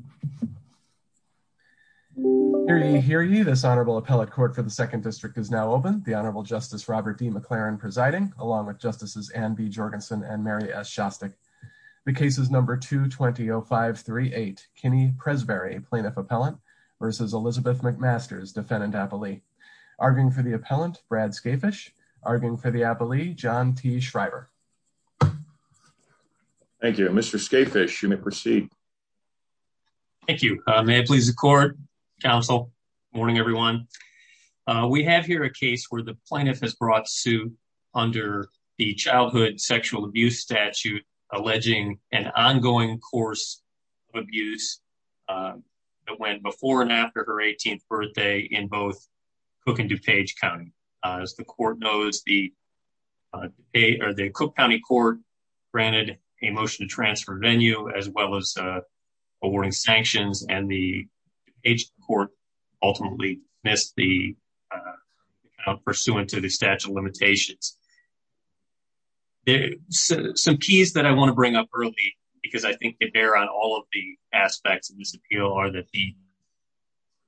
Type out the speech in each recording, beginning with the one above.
v. Elizabeth McMasters. Hear ye, hear ye, this Honorable Appellate Court for the Second District is now open. The Honorable Justice Robert D. McLaren presiding, along with Justices Anne B. Jorgensen and Mary S. Shostak. The case is number 220-538, Kinney Presberry, Plaintiff Appellant, v. Elizabeth McMasters, Defendant Appellee. Arguing for the Appellant, Brad Skafish. Arguing for the Appellee, John T. Shriver. Thank you. Mr. Skafish, you may proceed. Thank you. May it please the Court, Counsel, good morning everyone. We have here a case where the Plaintiff has brought suit under the Childhood Sexual Abuse Statute, alleging an ongoing course of abuse that went before and after her 18th birthday in both Cook and DuPage County. As the Court knows, the Cook County Court granted a motion to transfer venue, as well as awarding sanctions, and the DuPage Court ultimately missed the count pursuant to the statute of limitations. Some keys that I want to bring up early, because I think they bear on all of the aspects of this appeal, are that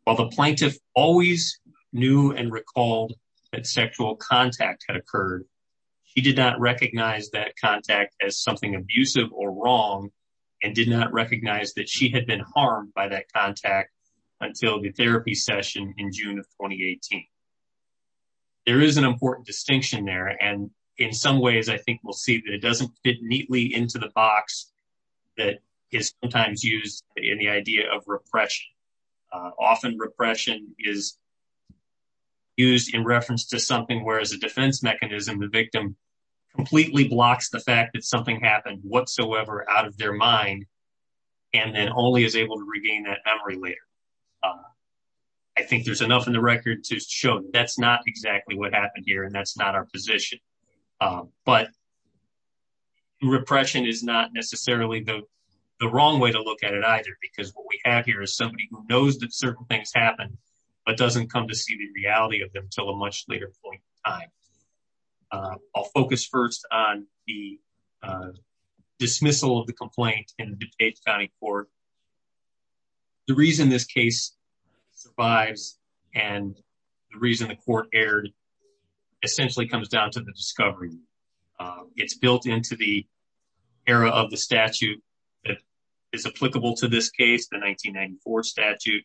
while the Plaintiff always knew and recalled that sexual contact had occurred, she did not recognize that contact as something abusive or wrong, and did not recognize that she had been harmed by that contact until the therapy session in June of 2018. There is an important distinction there, and in some ways I think we'll see that it doesn't fit neatly into the box that is sometimes used in the idea of repression. Often repression is used in reference to something where as a defense mechanism, the victim completely blocks the fact that something happened whatsoever out of their mind, and then only is able to regain that memory later. I think there's enough in the record to show that's not exactly what happened here, and that's not our position. But repression is not necessarily the wrong way to look at it either, because what we have here is somebody who knows that certain things happened, but doesn't come to see the reality of them until a much later point in time. I'll focus first on the dismissal of the complaint in the DuPage County Court. The reason this case survives, and the reason the court aired, essentially comes down to the discovery. It's built into the era of the statute that is applicable to this case, the 1994 statute.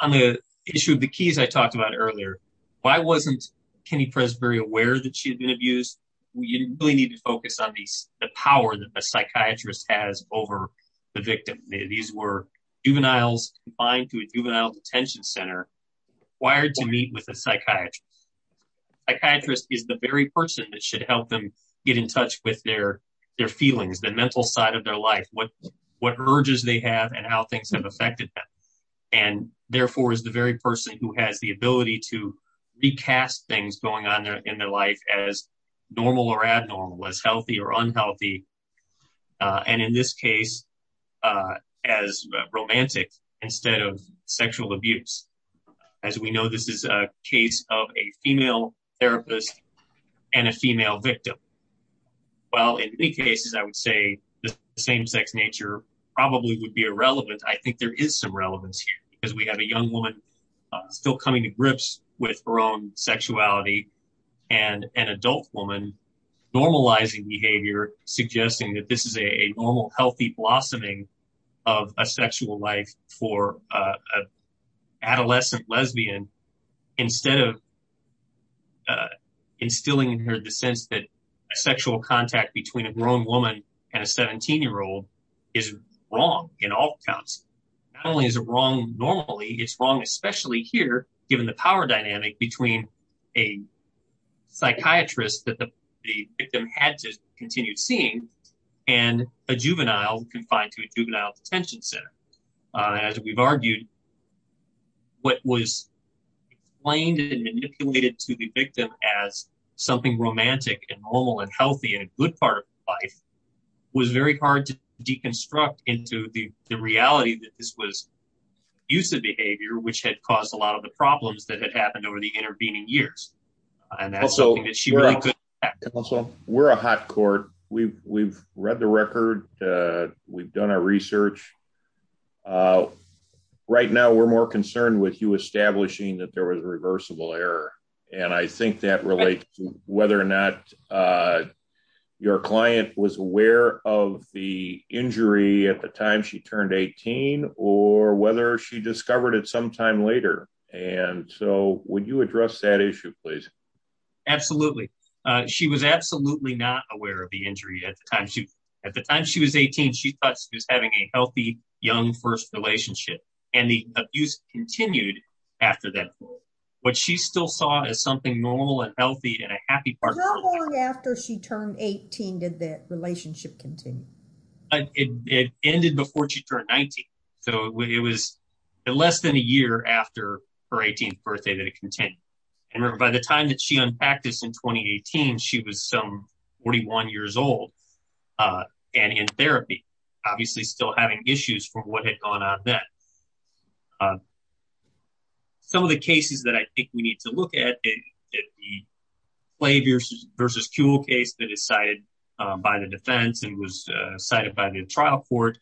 On the issue of the keys I talked about earlier, why wasn't Kenny Press very aware that she had been abused? You really need to focus on the power that a psychiatrist has over the victim. These were juveniles confined to a juvenile detention center, required to meet with a psychiatrist. A psychiatrist is the very person that should help them get in touch with their feelings, the mental side of their life, what urges they have, and how things have affected them. Therefore, it's the very person who has the ability to recast things going on in their life as normal or abnormal, as healthy or unhealthy, and in this case, as romantic instead of sexual abuse. As we know, this is a case of a female therapist and a female victim. While in many cases, I would say the same-sex nature probably would be irrelevant, I think there is some relevance here. We have a young woman still coming to grips with her own sexuality, and an adult woman normalizing behavior, suggesting that this is a normal, healthy blossoming of a sexual life for an adolescent lesbian, instead of instilling in her the sense that sexual contact between a grown woman and a 17-year-old is wrong in all accounts. Not only is it wrong normally, it's wrong especially here, given the power dynamic between a psychiatrist that the victim had to continue seeing and a juvenile confined to a juvenile detention center. As we've argued, what was explained and manipulated to the victim as something romantic and normal and healthy and a good part of life was very hard to deconstruct into the reality that this was abusive behavior, which had caused a lot of the problems that had happened over the intervening years. We're a hot court. We've read the record. We've done our research. Right now, we're more concerned with you establishing that there was a reversible error, and I think that relates to whether or not your client was aware of the injury at the time she turned 18 or whether she discovered it sometime later. Would you address that issue, please? Absolutely. She was absolutely not aware of the injury at the time. At the time she was 18, she thought she was having a healthy, young first relationship, and the abuse continued after that point. What she still saw as something normal and healthy and a happy part of her life. How long after she turned 18 did that relationship continue? It ended before she turned 19, so it was less than a year after her 18th birthday that it continued. Remember, by the time that she unpacked this in 2018, she was some 41 years old and in therapy, obviously still having issues from what had gone on then. Some of the cases that I think we need to look at, the Flavius versus Kuehl case that is cited by the defense and was cited by the trial court,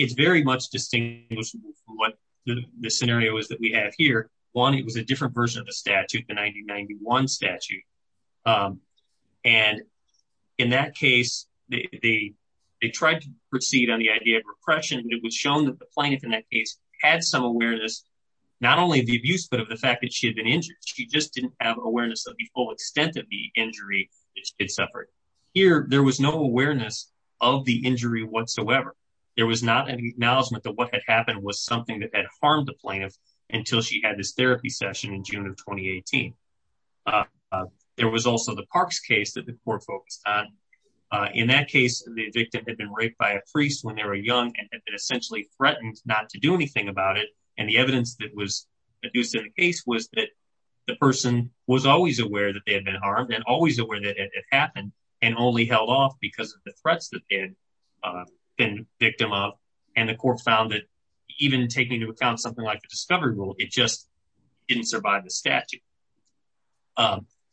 it's very much distinguishable from what the scenario is that we have here. One, it was a different version of the statute, the 1991 statute. In that case, they tried to proceed on the idea of repression, but it was shown that the plaintiff in that case had some awareness, not only of the abuse, but of the fact that she had been injured. She just didn't have awareness of the full extent of the injury that she had suffered. Here, there was no awareness of the injury whatsoever. There was not an acknowledgment that what had happened was something that had harmed the plaintiff until she had this therapy session in June of 2018. There was also the Parks case that the court focused on. In that case, the victim had been raped by a priest when they were young and had been essentially threatened not to do anything about it. And the evidence that was produced in the case was that the person was always aware that they had been harmed and always aware that it had happened and only held off because of the threats that they had been victim of. And the court found that even taking into account something like the discovery rule, it just didn't survive the statute.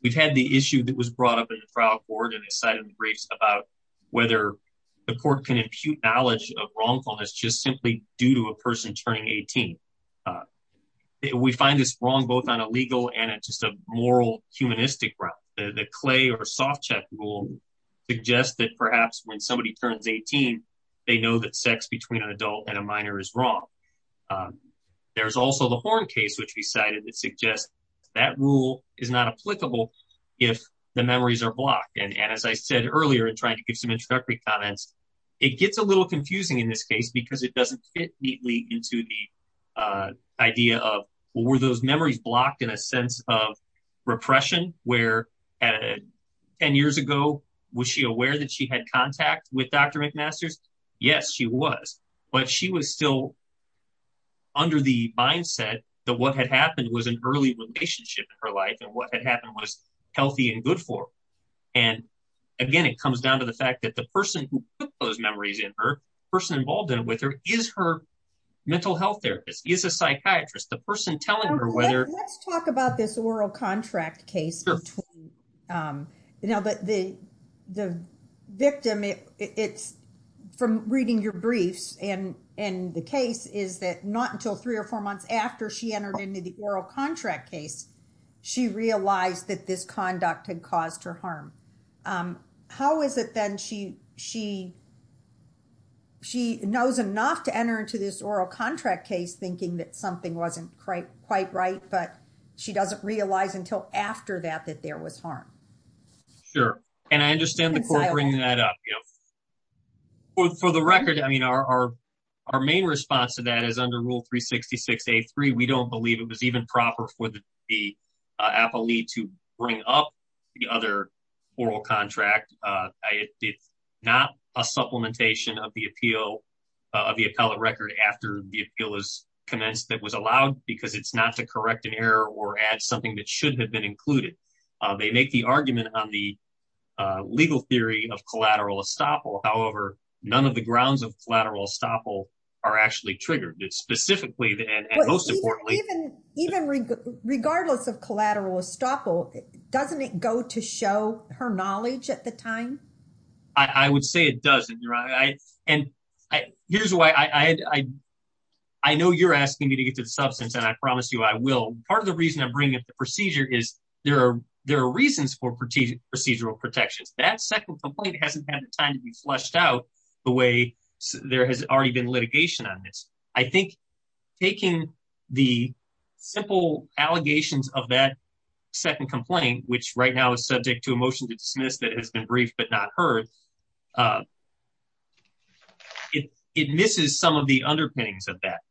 We've had the issue that was brought up in the trial court and cited in the briefs about whether the court can impute knowledge of wrongfulness just simply due to a person turning 18. We find this wrong both on a legal and just a moral, humanistic ground. The Clay or Softcheck rule suggests that perhaps when somebody turns 18, they know that sex between an adult and a minor is wrong. There's also the Horn case which we cited that suggests that rule is not applicable if the memories are blocked. And as I said earlier in trying to give some introductory comments, it gets a little confusing in this case because it doesn't fit neatly into the idea of, well, were those memories blocked in a sense of repression? Where 10 years ago, was she aware that she had contact with Dr. McMasters? Yes, she was. But she was still under the mindset that what had happened was an early relationship in her life and what had happened was healthy and good for her. And again, it comes down to the fact that the person who put those memories in her, the person involved with her, is her mental health therapist, is a psychiatrist. Let's talk about this oral contract case. The victim, it's from reading your briefs, and the case is that not until three or four months after she entered into the oral contract case, she realized that this conduct had caused her harm. How is it then she knows enough to enter into this oral contract case thinking that something wasn't quite right, but she doesn't realize until after that that there was harm? Sure. And I understand the court bringing that up. For the record, I mean, our main response to that is under Rule 366A.3, we don't believe it was even proper for the appellee to bring up the other oral contract. It's not a supplementation of the appeal of the appellate record after the appeal is commenced that was allowed because it's not to correct an error or add something that should have been included. They make the argument on the legal theory of collateral estoppel. However, none of the grounds of collateral estoppel are actually triggered. It's specifically, and most importantly- Even regardless of collateral estoppel, doesn't it go to show her knowledge at the time? I would say it doesn't, Your Honor. And here's why I know you're asking me to get to the substance, and I promise you I will. Part of the reason I'm bringing up the procedure is there are reasons for procedural protections. That second complaint hasn't had the time to be fleshed out the way there has already been litigation on this. I think taking the simple allegations of that second complaint, which right now is subject to a motion to dismiss that has been briefed but not heard, it misses some of the underpinnings of that.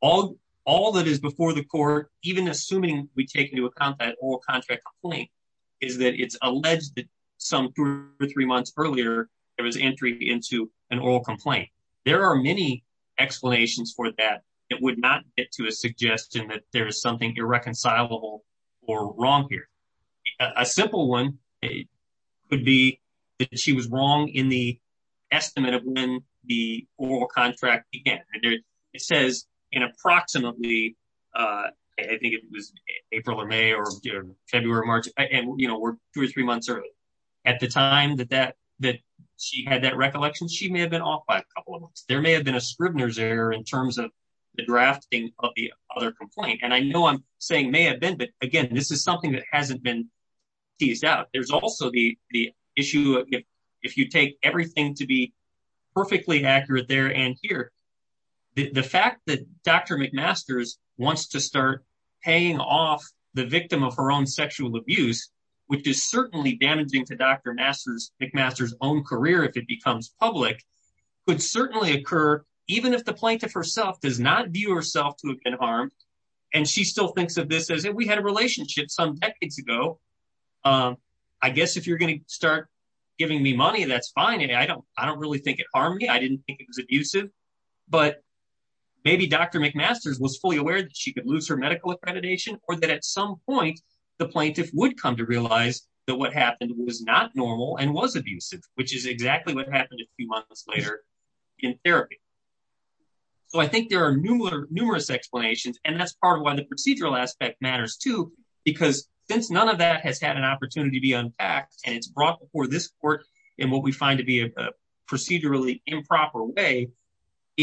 All that is before the court, even assuming we take into account that oral contract complaint, is that it's alleged that some two or three months earlier there was entry into an oral complaint. There are many explanations for that. It would not get to a suggestion that there is something irreconcilable or wrong here. A simple one could be that she was wrong in the estimate of when the oral contract began. It says in approximately, I think it was April or May or February or March, and we're two or three months early. At the time that she had that recollection, she may have been off by a couple of months. There may have been a Scribner's error in terms of the drafting of the other complaint. And I know I'm saying may have been, but again, this is something that hasn't been teased out. There's also the issue if you take everything to be perfectly accurate there and here. The fact that Dr. McMaster's wants to start paying off the victim of her own sexual abuse, which is certainly damaging to Dr. McMaster's own career if it becomes public, could certainly occur even if the plaintiff herself does not view herself to have been harmed. And she still thinks of this as if we had a relationship some decades ago. I guess if you're going to start giving me money, that's fine. And I don't I don't really think it harmed me. I didn't think it was abusive. But maybe Dr. McMaster's was fully aware that she could lose her medical accreditation or that at some point the plaintiff would come to realize that what happened was not normal and was abusive, which is exactly what happened a few months later in therapy. So I think there are numerous, numerous explanations, and that's part of why the procedural aspect matters, too, because since none of that has had an opportunity to be unpacked and it's brought before this court in what we find to be a procedurally improper way.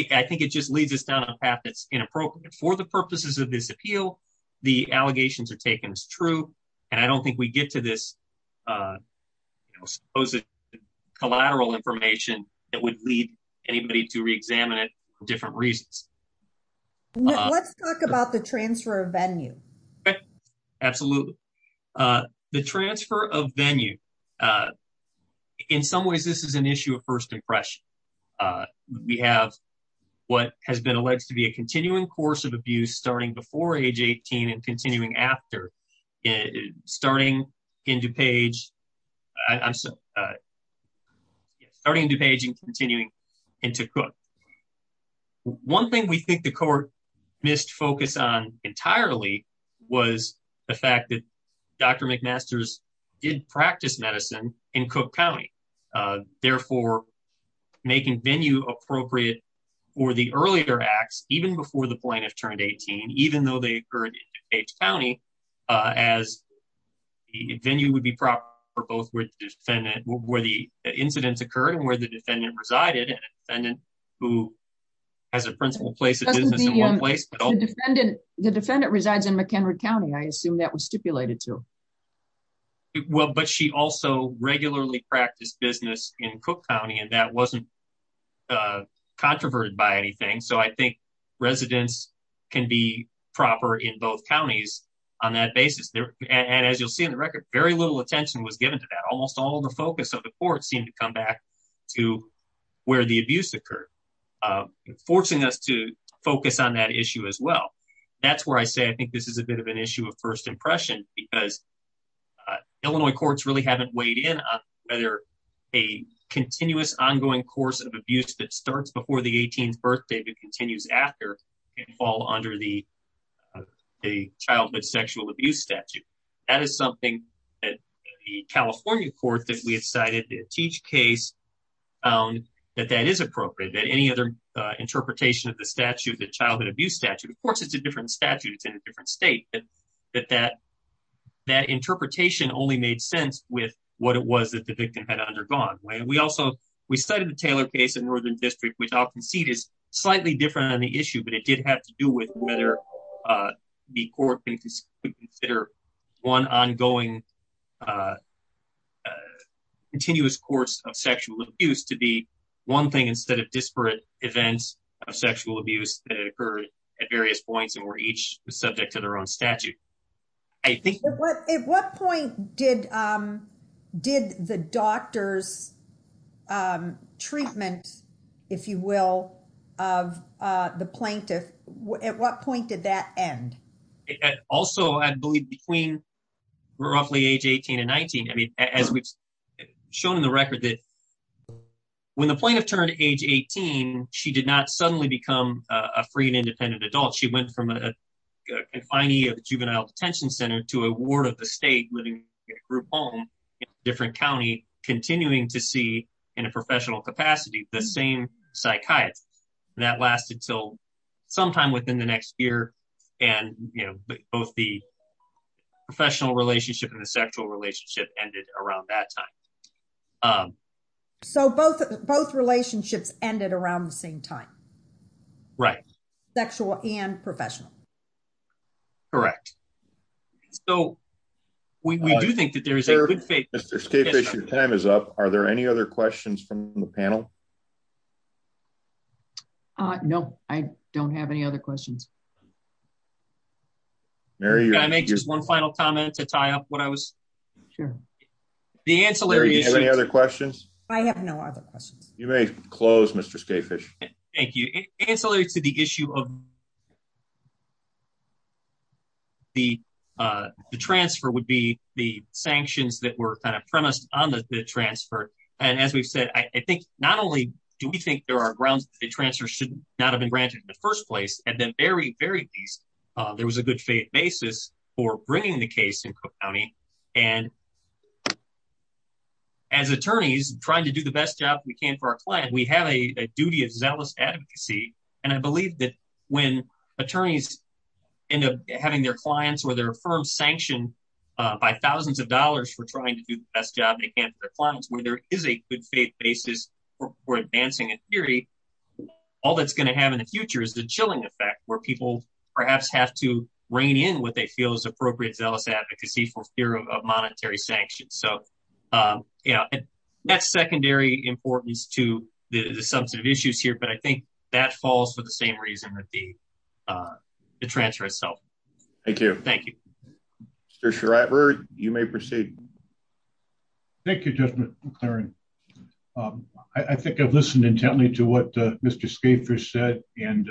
I think it just leads us down a path that's inappropriate for the purposes of this appeal. The allegations are taken as true. And I don't think we get to this supposed collateral information that would lead anybody to reexamine it for different reasons. Let's talk about the transfer of venue. Absolutely. The transfer of venue. In some ways, this is an issue of first impression. We have what has been alleged to be a continuing course of abuse starting before age 18 and continuing after it starting into page. I'm starting to page and continuing into cook. One thing we think the court missed focus on entirely was the fact that Dr. McMaster's did practice medicine in Cook County. Therefore, making venue appropriate for the earlier acts, even before the plaintiff turned 18, even though they occurred in Cage County, as the venue would be proper for both with defendant where the incidents occurred and where the defendant resided. And then, who has a principal place of business in one place. The defendant resides in McHenry County I assume that was stipulated to. Well, but she also regularly practice business in Cook County and that wasn't controverted by anything. So I think residents can be proper in both counties on that basis. And as you'll see in the record, very little attention was given to that. Almost all the focus of the court seemed to come back to where the abuse occurred, forcing us to focus on that issue as well. That's where I say I think this is a bit of an issue of first impression, because Illinois courts really haven't weighed in on whether a continuous ongoing course of abuse that starts before the 18th birthday that continues after fall under the childhood sexual abuse statute. That is something that the California court that we decided to teach case found that that is appropriate that any other interpretation of the statute that childhood abuse statute of course it's a different statute it's in a different state, but that that that interpretation only made sense with what it was that the victim had undergone. We cited the Taylor case in Northern District, which I'll concede is slightly different on the issue, but it did have to do with whether the court could consider one ongoing continuous course of sexual abuse to be one thing instead of disparate events of sexual abuse that occurred at various points and were each subject to their own statute. At what point did the doctor's treatment, if you will, of the plaintiff, at what point did that end? Also, I believe between roughly age 18 and 19. I mean, as we've shown in the record that when the plaintiff turned age 18, she did not suddenly become a free and independent adult. She went from a confinee of the juvenile detention center to a ward of the state living in a group home in a different county, continuing to see in a professional capacity the same psychiatrist. That lasted until sometime within the next year, and both the professional relationship and the sexual relationship ended around that time. So both relationships ended around the same time? Right. Both sexual and professional. Correct. So, we do think that there is a good fit. Mr. Skafish, your time is up. Are there any other questions from the panel? No, I don't have any other questions. Mary, you're on mute. Can I make just one final comment to tie up what I was... Sure. The ancillary... Mary, do you have any other questions? I have no other questions. You may close, Mr. Skafish. Thank you. Ancillary to the issue of the transfer would be the sanctions that were kind of premised on the transfer. And as we've said, I think not only do we think there are grounds that the transfer should not have been granted in the first place, at the very, very least, there was a good faith basis for bringing the case in Cook County. And as attorneys trying to do the best job we can for our client, we have a duty of zealous advocacy. And I believe that when attorneys end up having their clients or their firm sanctioned by thousands of dollars for trying to do the best job they can for their clients, where there is a good faith basis for advancing a theory, all that's going to have in the future is the chilling effect where people perhaps have to rein in what they feel is appropriate zealous advocacy for fear of monetary sanctions. So, you know, that's secondary importance to the substantive issues here, but I think that falls for the same reason that the transfer itself. Thank you. Thank you. Mr. Schreiber, you may proceed. Thank you, Judge McLaren. I think I've listened intently to what Mr. Schaefer said, and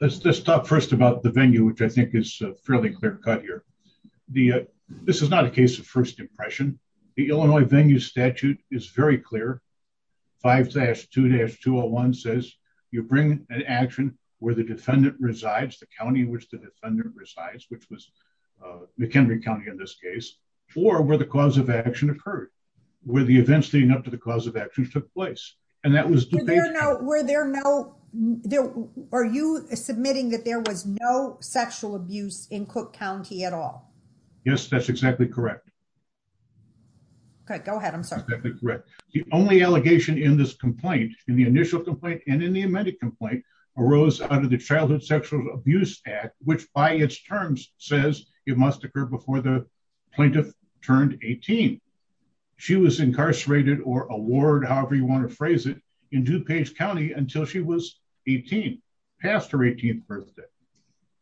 let's just talk first about the venue which I think is fairly clear cut here. This is not a case of first impression. The Illinois venue statute is very clear. 5-2-201 says you bring an action where the defendant resides, the county in which the defendant resides, which was McHenry County in this case, or where the cause of action occurred, where the events leading up to the cause of action took place. Are you submitting that there was no sexual abuse in Cook County at all? Yes, that's exactly correct. Okay, go ahead. I'm sorry. The only allegation in this complaint, in the initial complaint and in the amended complaint, arose under the Childhood Sexual Abuse Act, which by its terms says it must occur before the plaintiff turned 18. She was incarcerated or award, however you want to phrase it, in DuPage County until she was 18, past her 18th birthday.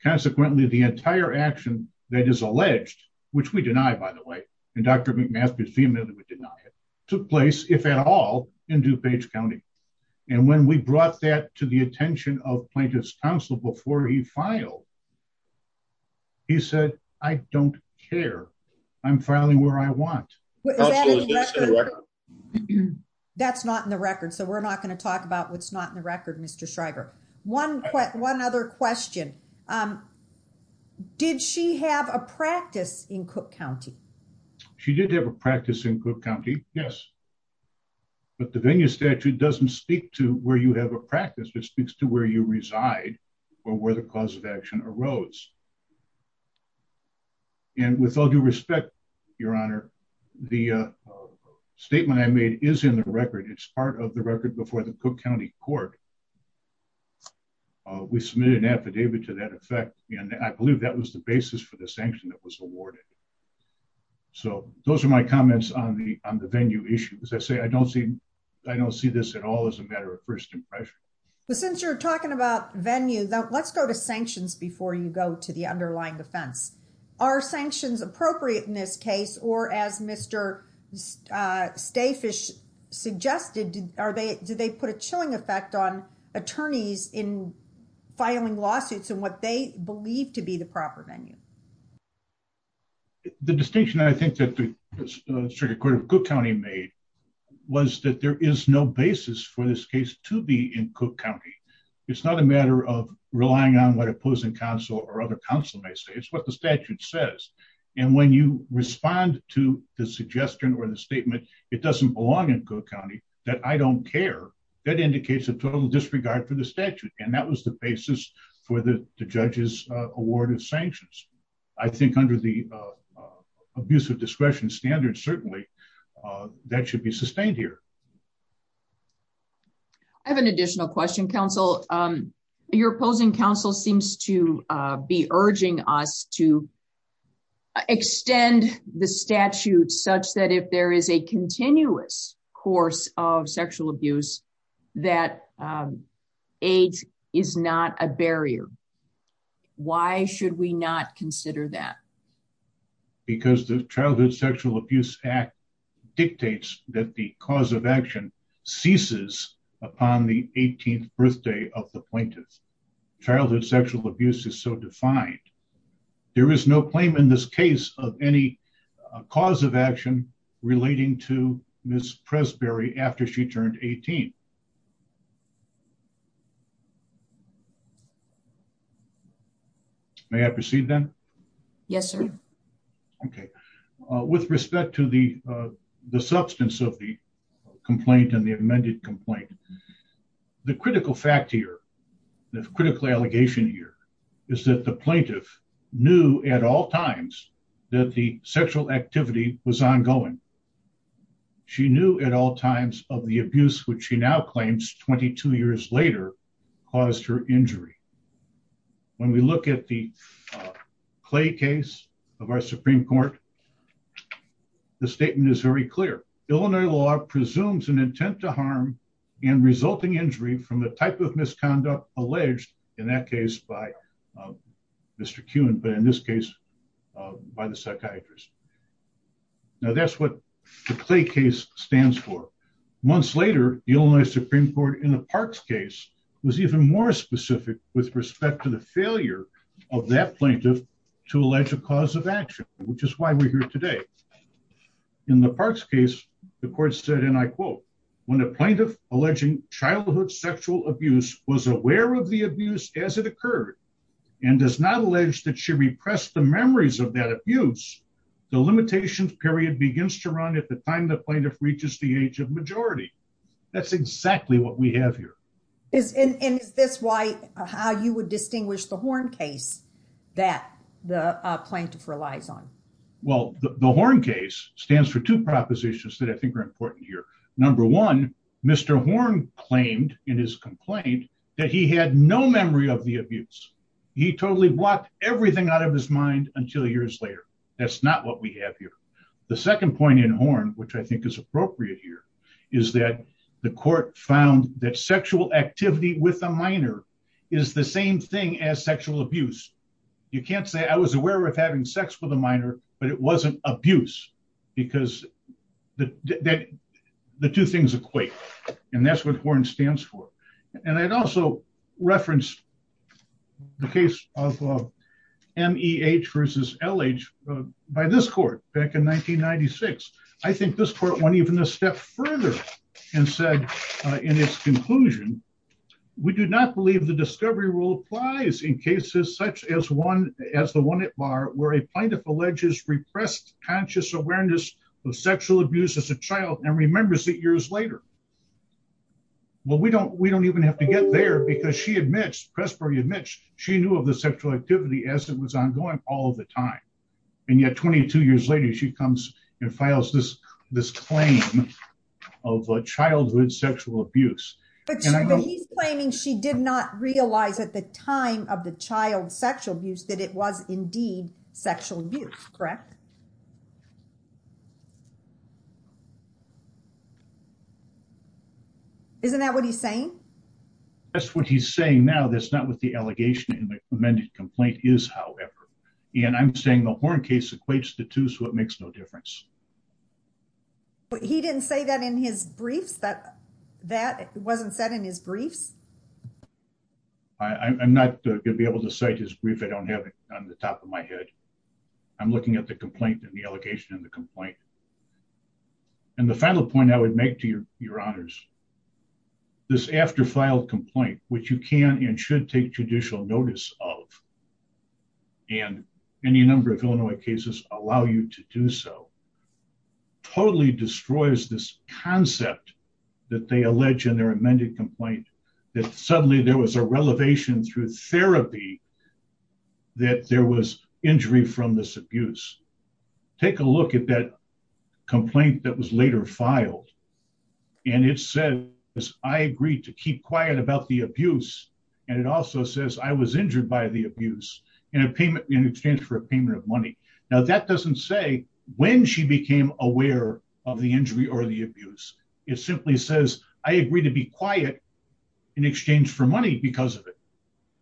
Consequently, the entire action that is alleged, which we deny, by the way, and Dr. McMaster's vehemently denied it, took place, if at all, in DuPage County. And when we brought that to the attention of Plaintiff's Counsel before he filed, he said, I don't care. I'm filing where I want. That's not in the record, so we're not going to talk about what's not in the record, Mr. Shriver. One other question. Did she have a practice in Cook County? She did have a practice in Cook County, yes. But the venue statute doesn't speak to where you have a practice. It speaks to where you reside or where the cause of action arose. And with all due respect, Your Honor, the statement I made is in the record. It's part of the record before the Cook County Court. We submitted an affidavit to that effect, and I believe that was the basis for the sanction that was awarded. So those are my comments on the venue issue. As I say, I don't see this at all as a matter of first impression. But since you're talking about venue, let's go to sanctions before you go to the underlying offense. Are sanctions appropriate in this case, or as Mr. Stafish suggested, do they put a chilling effect on attorneys in filing lawsuits in what they believe to be the proper venue? The distinction, I think, that the Circuit Court of Cook County made was that there is no basis for this case to be in Cook County. It's not a matter of relying on what opposing counsel or other counsel may say. It's what the statute says. And when you respond to the suggestion or the statement, it doesn't belong in Cook County, that I don't care, that indicates a total disregard for the statute. And that was the basis for the judge's award of sanctions. I think under the abuse of discretion standard, certainly, that should be sustained here. I have an additional question, counsel. Your opposing counsel seems to be urging us to extend the statute such that if there is a continuous course of sexual abuse, that AIDS is not a barrier. Why should we not consider that? Because the Childhood Sexual Abuse Act dictates that the cause of action ceases upon the 18th birthday of the plaintiff. Childhood sexual abuse is so defined. There is no claim in this case of any cause of action relating to Ms. Presberry after she turned 18. May I proceed then? Yes, sir. Okay. With respect to the substance of the complaint and the amended complaint, the critical fact here, the critical allegation here, is that the plaintiff knew at all times that the sexual activity was ongoing. She knew at all times of the abuse, which she now claims 22 years later, caused her injury. When we look at the Clay case of our Supreme Court, the statement is very clear. Illinois law presumes an intent to harm and resulting injury from the type of misconduct alleged in that case by Mr. Kuhn, but in this case, by the psychiatrist. Now, that's what the Clay case stands for. Months later, the Illinois Supreme Court in the Parks case was even more specific with respect to the failure of that plaintiff to allege a cause of action, which is why we're here today. In the Parks case, the court said, and I quote, when a plaintiff alleging childhood sexual abuse was aware of the abuse as it occurred and does not allege that she repressed the memories of that abuse, the limitations period begins to run at the time the plaintiff reaches the age of majority. That's exactly what we have here. And is this how you would distinguish the Horn case that the plaintiff relies on? Well, the Horn case stands for two propositions that I think are important here. Number one, Mr. Horn claimed in his complaint that he had no memory of the abuse. He totally blocked everything out of his mind until years later. That's not what we have here. The second point in Horn, which I think is appropriate here, is that the court found that sexual activity with a minor is the same thing as sexual abuse. You can't say I was aware of having sex with a minor, but it wasn't abuse because the two things equate. And that's what Horn stands for. And I'd also reference the case of M.E.H. versus L.H. by this court back in 1996. I think this court went even a step further and said in its conclusion, we do not believe the discovery rule applies in cases such as the one at Barr where a plaintiff alleges repressed conscious awareness of sexual abuse as a child and remembers it years later. Well, we don't we don't even have to get there because she admits, Pressbury admits, she knew of the sexual activity as it was ongoing all the time. And yet, 22 years later, she comes and files this this claim of childhood sexual abuse. But he's claiming she did not realize at the time of the child sexual abuse that it was indeed sexual abuse. Correct. Isn't that what he's saying? That's what he's saying now. That's not what the allegation in the amended complaint is, however. And I'm saying the Horn case equates the two, so it makes no difference. But he didn't say that in his briefs that that wasn't said in his briefs. I'm not going to be able to cite his brief. I don't have it on the top of my head. I'm looking at the complaint and the allegation in the complaint. And the final point I would make to your your honors. This after file complaint, which you can and should take judicial notice of. And any number of cases allow you to do so. Totally destroys this concept that they allege in their amended complaint that suddenly there was a relevation through therapy. That there was injury from this abuse. Take a look at that complaint that was later filed. And it says I agreed to keep quiet about the abuse. And it also says I was injured by the abuse in a payment in exchange for a payment of money. Now, that doesn't say when she became aware of the injury or the abuse. It simply says I agree to be quiet in exchange for money because of it.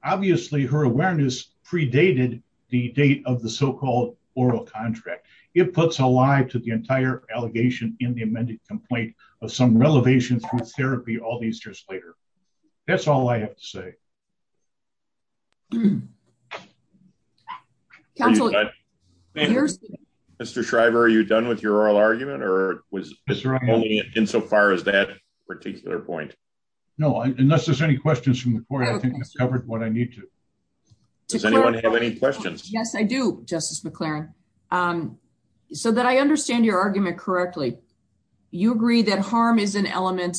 Obviously, her awareness predated the date of the so-called oral contract. It puts a lie to the entire allegation in the amended complaint of some relevations from therapy all these years later. That's all I have to say. Mr. Shriver, are you done with your oral argument or was only in so far as that particular point? No, unless there's any questions from the court, I think that's covered what I need to. Does anyone have any questions? Yes, I do, Justice McLaren. So that I understand your argument correctly. You agree that harm is an element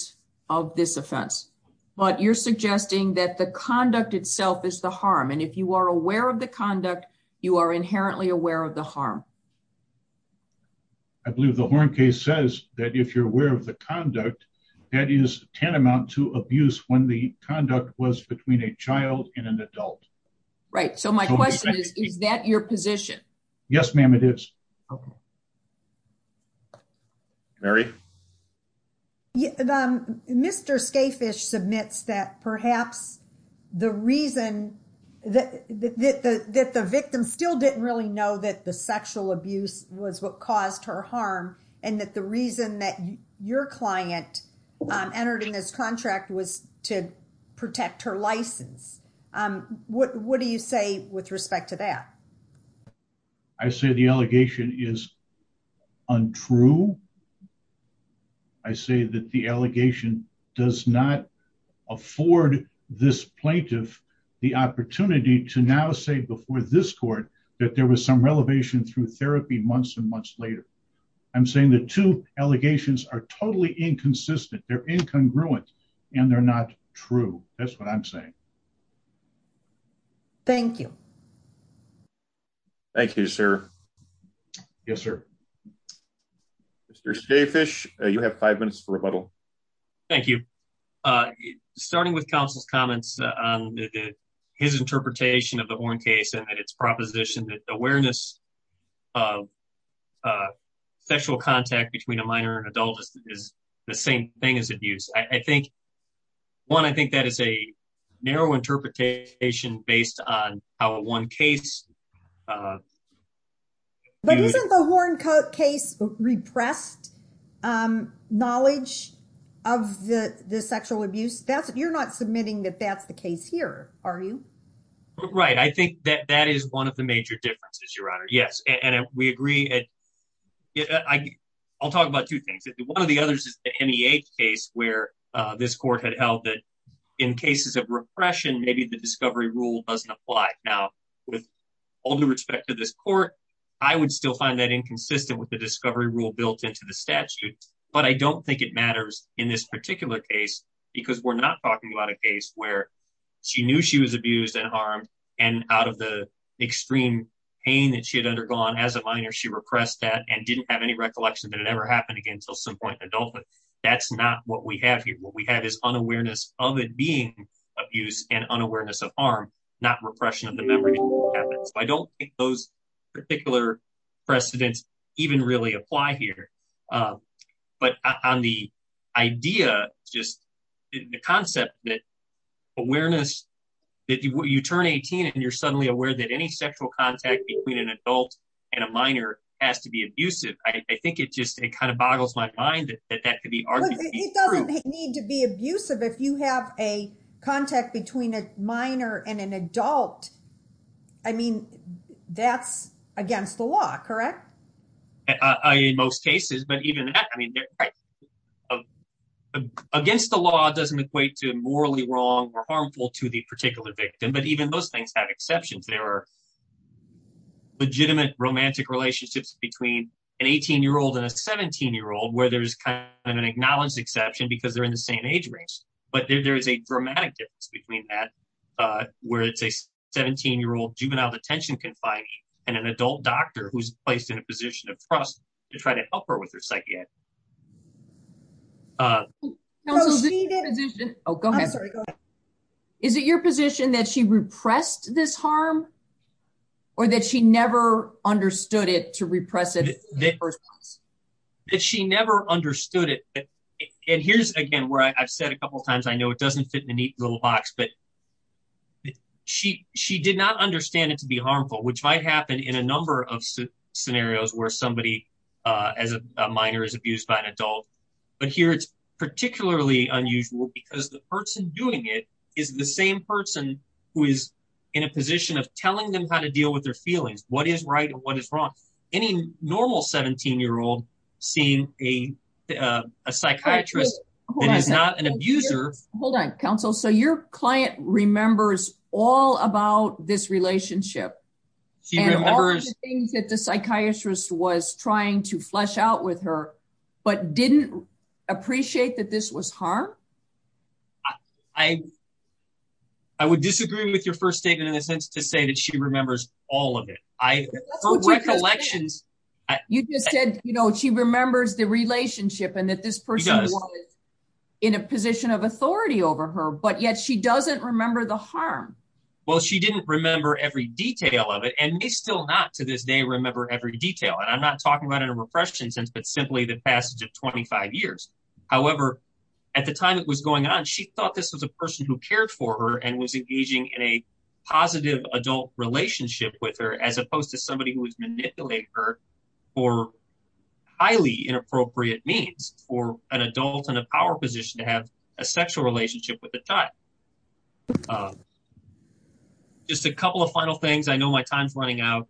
of this offense. But you're suggesting that the conduct itself is the harm. And if you are aware of the conduct, you are inherently aware of the harm. I believe the Horne case says that if you're aware of the conduct, that is tantamount to abuse when the conduct was between a child and an adult. Right, so my question is, is that your position? Yes, ma'am, it is. Mary? Mr. Skafish submits that perhaps the reason that the victim still didn't really know that the sexual abuse was what caused her harm. And that the reason that your client entered in this contract was to protect her license. What do you say with respect to that? I say the allegation is untrue. I say that the allegation does not afford this plaintiff the opportunity to now say before this court that there was some relevation through therapy months and months later. I'm saying the two allegations are totally inconsistent. They're incongruent, and they're not true. That's what I'm saying. Thank you. Thank you, sir. Yes, sir. Mr. Skafish, you have five minutes for rebuttal. Thank you. Starting with counsel's comments on his interpretation of the Horne case and its proposition that the awareness of sexual contact between a minor and adult is the same thing as abuse. One, I think that is a narrow interpretation based on how one case... But isn't the Horne case repressed knowledge of the sexual abuse? You're not submitting that that's the case here, are you? Right. I think that that is one of the major differences, Your Honor. Yes, and we agree. I'll talk about two things. One of the others is the MEH case where this court had held that in cases of repression, maybe the discovery rule doesn't apply. Now, with all due respect to this court, I would still find that inconsistent with the discovery rule built into the statute. But I don't think it matters in this particular case because we're not talking about a case where she knew she was abused and harmed. And out of the extreme pain that she had undergone as a minor, she repressed that and didn't have any recollection that it ever happened again until some point in adulthood. That's not what we have here. What we have is unawareness of it being abuse and unawareness of harm, not repression of the memory. I don't think those particular precedents even really apply here. But on the idea, just the concept that awareness, that you turn 18 and you're suddenly aware that any sexual contact between an adult and a minor has to be abusive. I think it just kind of boggles my mind that that could be arguably true. It doesn't need to be abusive if you have a contact between a minor and an adult. I mean, that's against the law, correct? In most cases, but even that, I mean, against the law, it doesn't equate to morally wrong or harmful to the particular victim. But even those things have exceptions. There are legitimate romantic relationships between an 18-year-old and a 17-year-old where there's kind of an acknowledged exception because they're in the same age range. But there is a dramatic difference between that, where it's a 17-year-old juvenile detention confining and an adult doctor who's placed in a position of trust to try to help her with her psychiatry. Is it your position that she repressed this harm or that she never understood it to repress it in the first place? That she never understood it. And here's, again, where I've said a couple of times, I know it doesn't fit in a neat little box, but she did not understand it to be harmful, which might happen in a number of scenarios where somebody as a minor is abused by an adult. But here it's particularly unusual because the person doing it is the same person who is in a position of telling them how to deal with their feelings, what is right and what is wrong. Any normal 17-year-old seeing a psychiatrist who is not an abuser... Hold on, counsel. So your client remembers all about this relationship and all of the things that the psychiatrist was trying to flesh out with her but didn't appreciate that this was harm? I would disagree with your first statement in a sense to say that she remembers all of it. Her recollections... You just said she remembers the relationship and that this person was in a position of authority over her, but yet she doesn't remember the harm. Well, she didn't remember every detail of it and may still not to this day remember every detail. And I'm not talking about in a repression sense, but simply the passage of 25 years. However, at the time it was going on, she thought this was a person who cared for her and was engaging in a positive adult relationship with her as opposed to somebody who would manipulate her for highly inappropriate means for an adult in a power position to have a sexual relationship with a child. Just a couple of final things. I know my time is running out.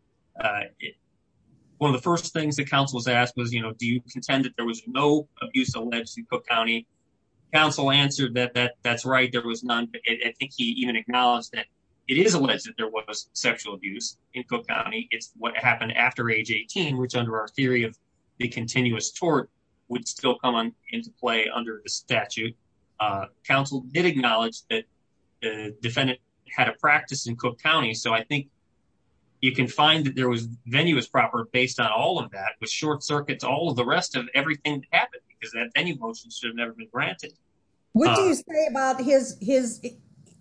One of the first things that counsel was asked was, you know, do you contend that there was no abuse alleged in Cook County? Counsel answered that that's right. There was none. I think he even acknowledged that it is alleged that there was sexual abuse in Cook County. It's what happened after age 18, which under our theory of the continuous tort would still come on into play under the statute. Counsel did acknowledge that the defendant had a practice in Cook County. So I think you can find that there was venue is proper based on all of that with short circuits, all of the rest of everything happened because that any motion should have never been granted. What do you say about his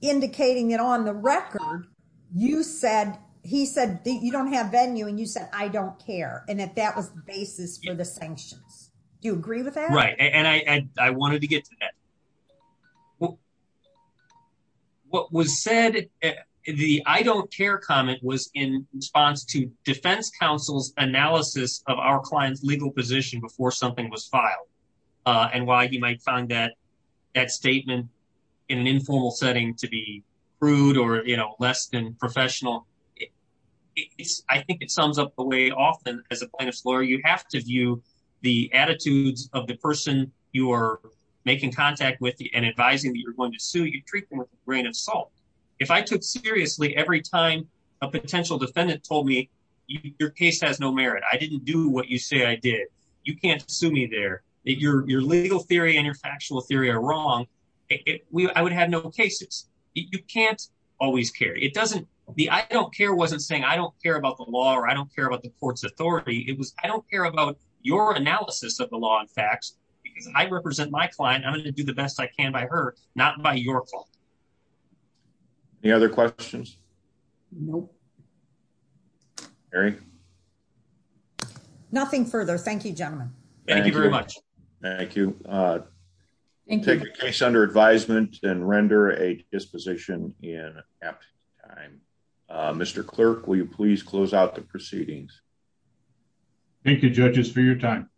indicating that on the record? You said he said you don't have venue and you said, I don't care. And if that was the basis for the sanctions, do you agree with that? Right. And I wanted to get to that. What was said in the I don't care comment was in response to defense counsel's analysis of our client's legal position before something was filed and why he might find that that statement in an informal setting to be rude or less than professional. I think it sums up the way often as a lawyer, you have to view the attitudes of the person you are making contact with and advising that you're going to sue. You treat them with a grain of salt. If I took seriously every time a potential defendant told me your case has no merit, I didn't do what you say I did. You can't sue me there. Your legal theory and your factual theory are wrong. I would have no cases. You can't always care. It doesn't be I don't care wasn't saying I don't care about the law or I don't care about the court's authority. It was I don't care about your analysis of the law and facts, because I represent my client. I'm going to do the best I can by her, not by your fault. The other questions. Nope. Very nothing further. Thank you, gentlemen. Thank you very much. Thank you. Take your case under advisement and render a disposition in time. Mr. Clerk, will you please close out the proceedings. Thank you judges for your time.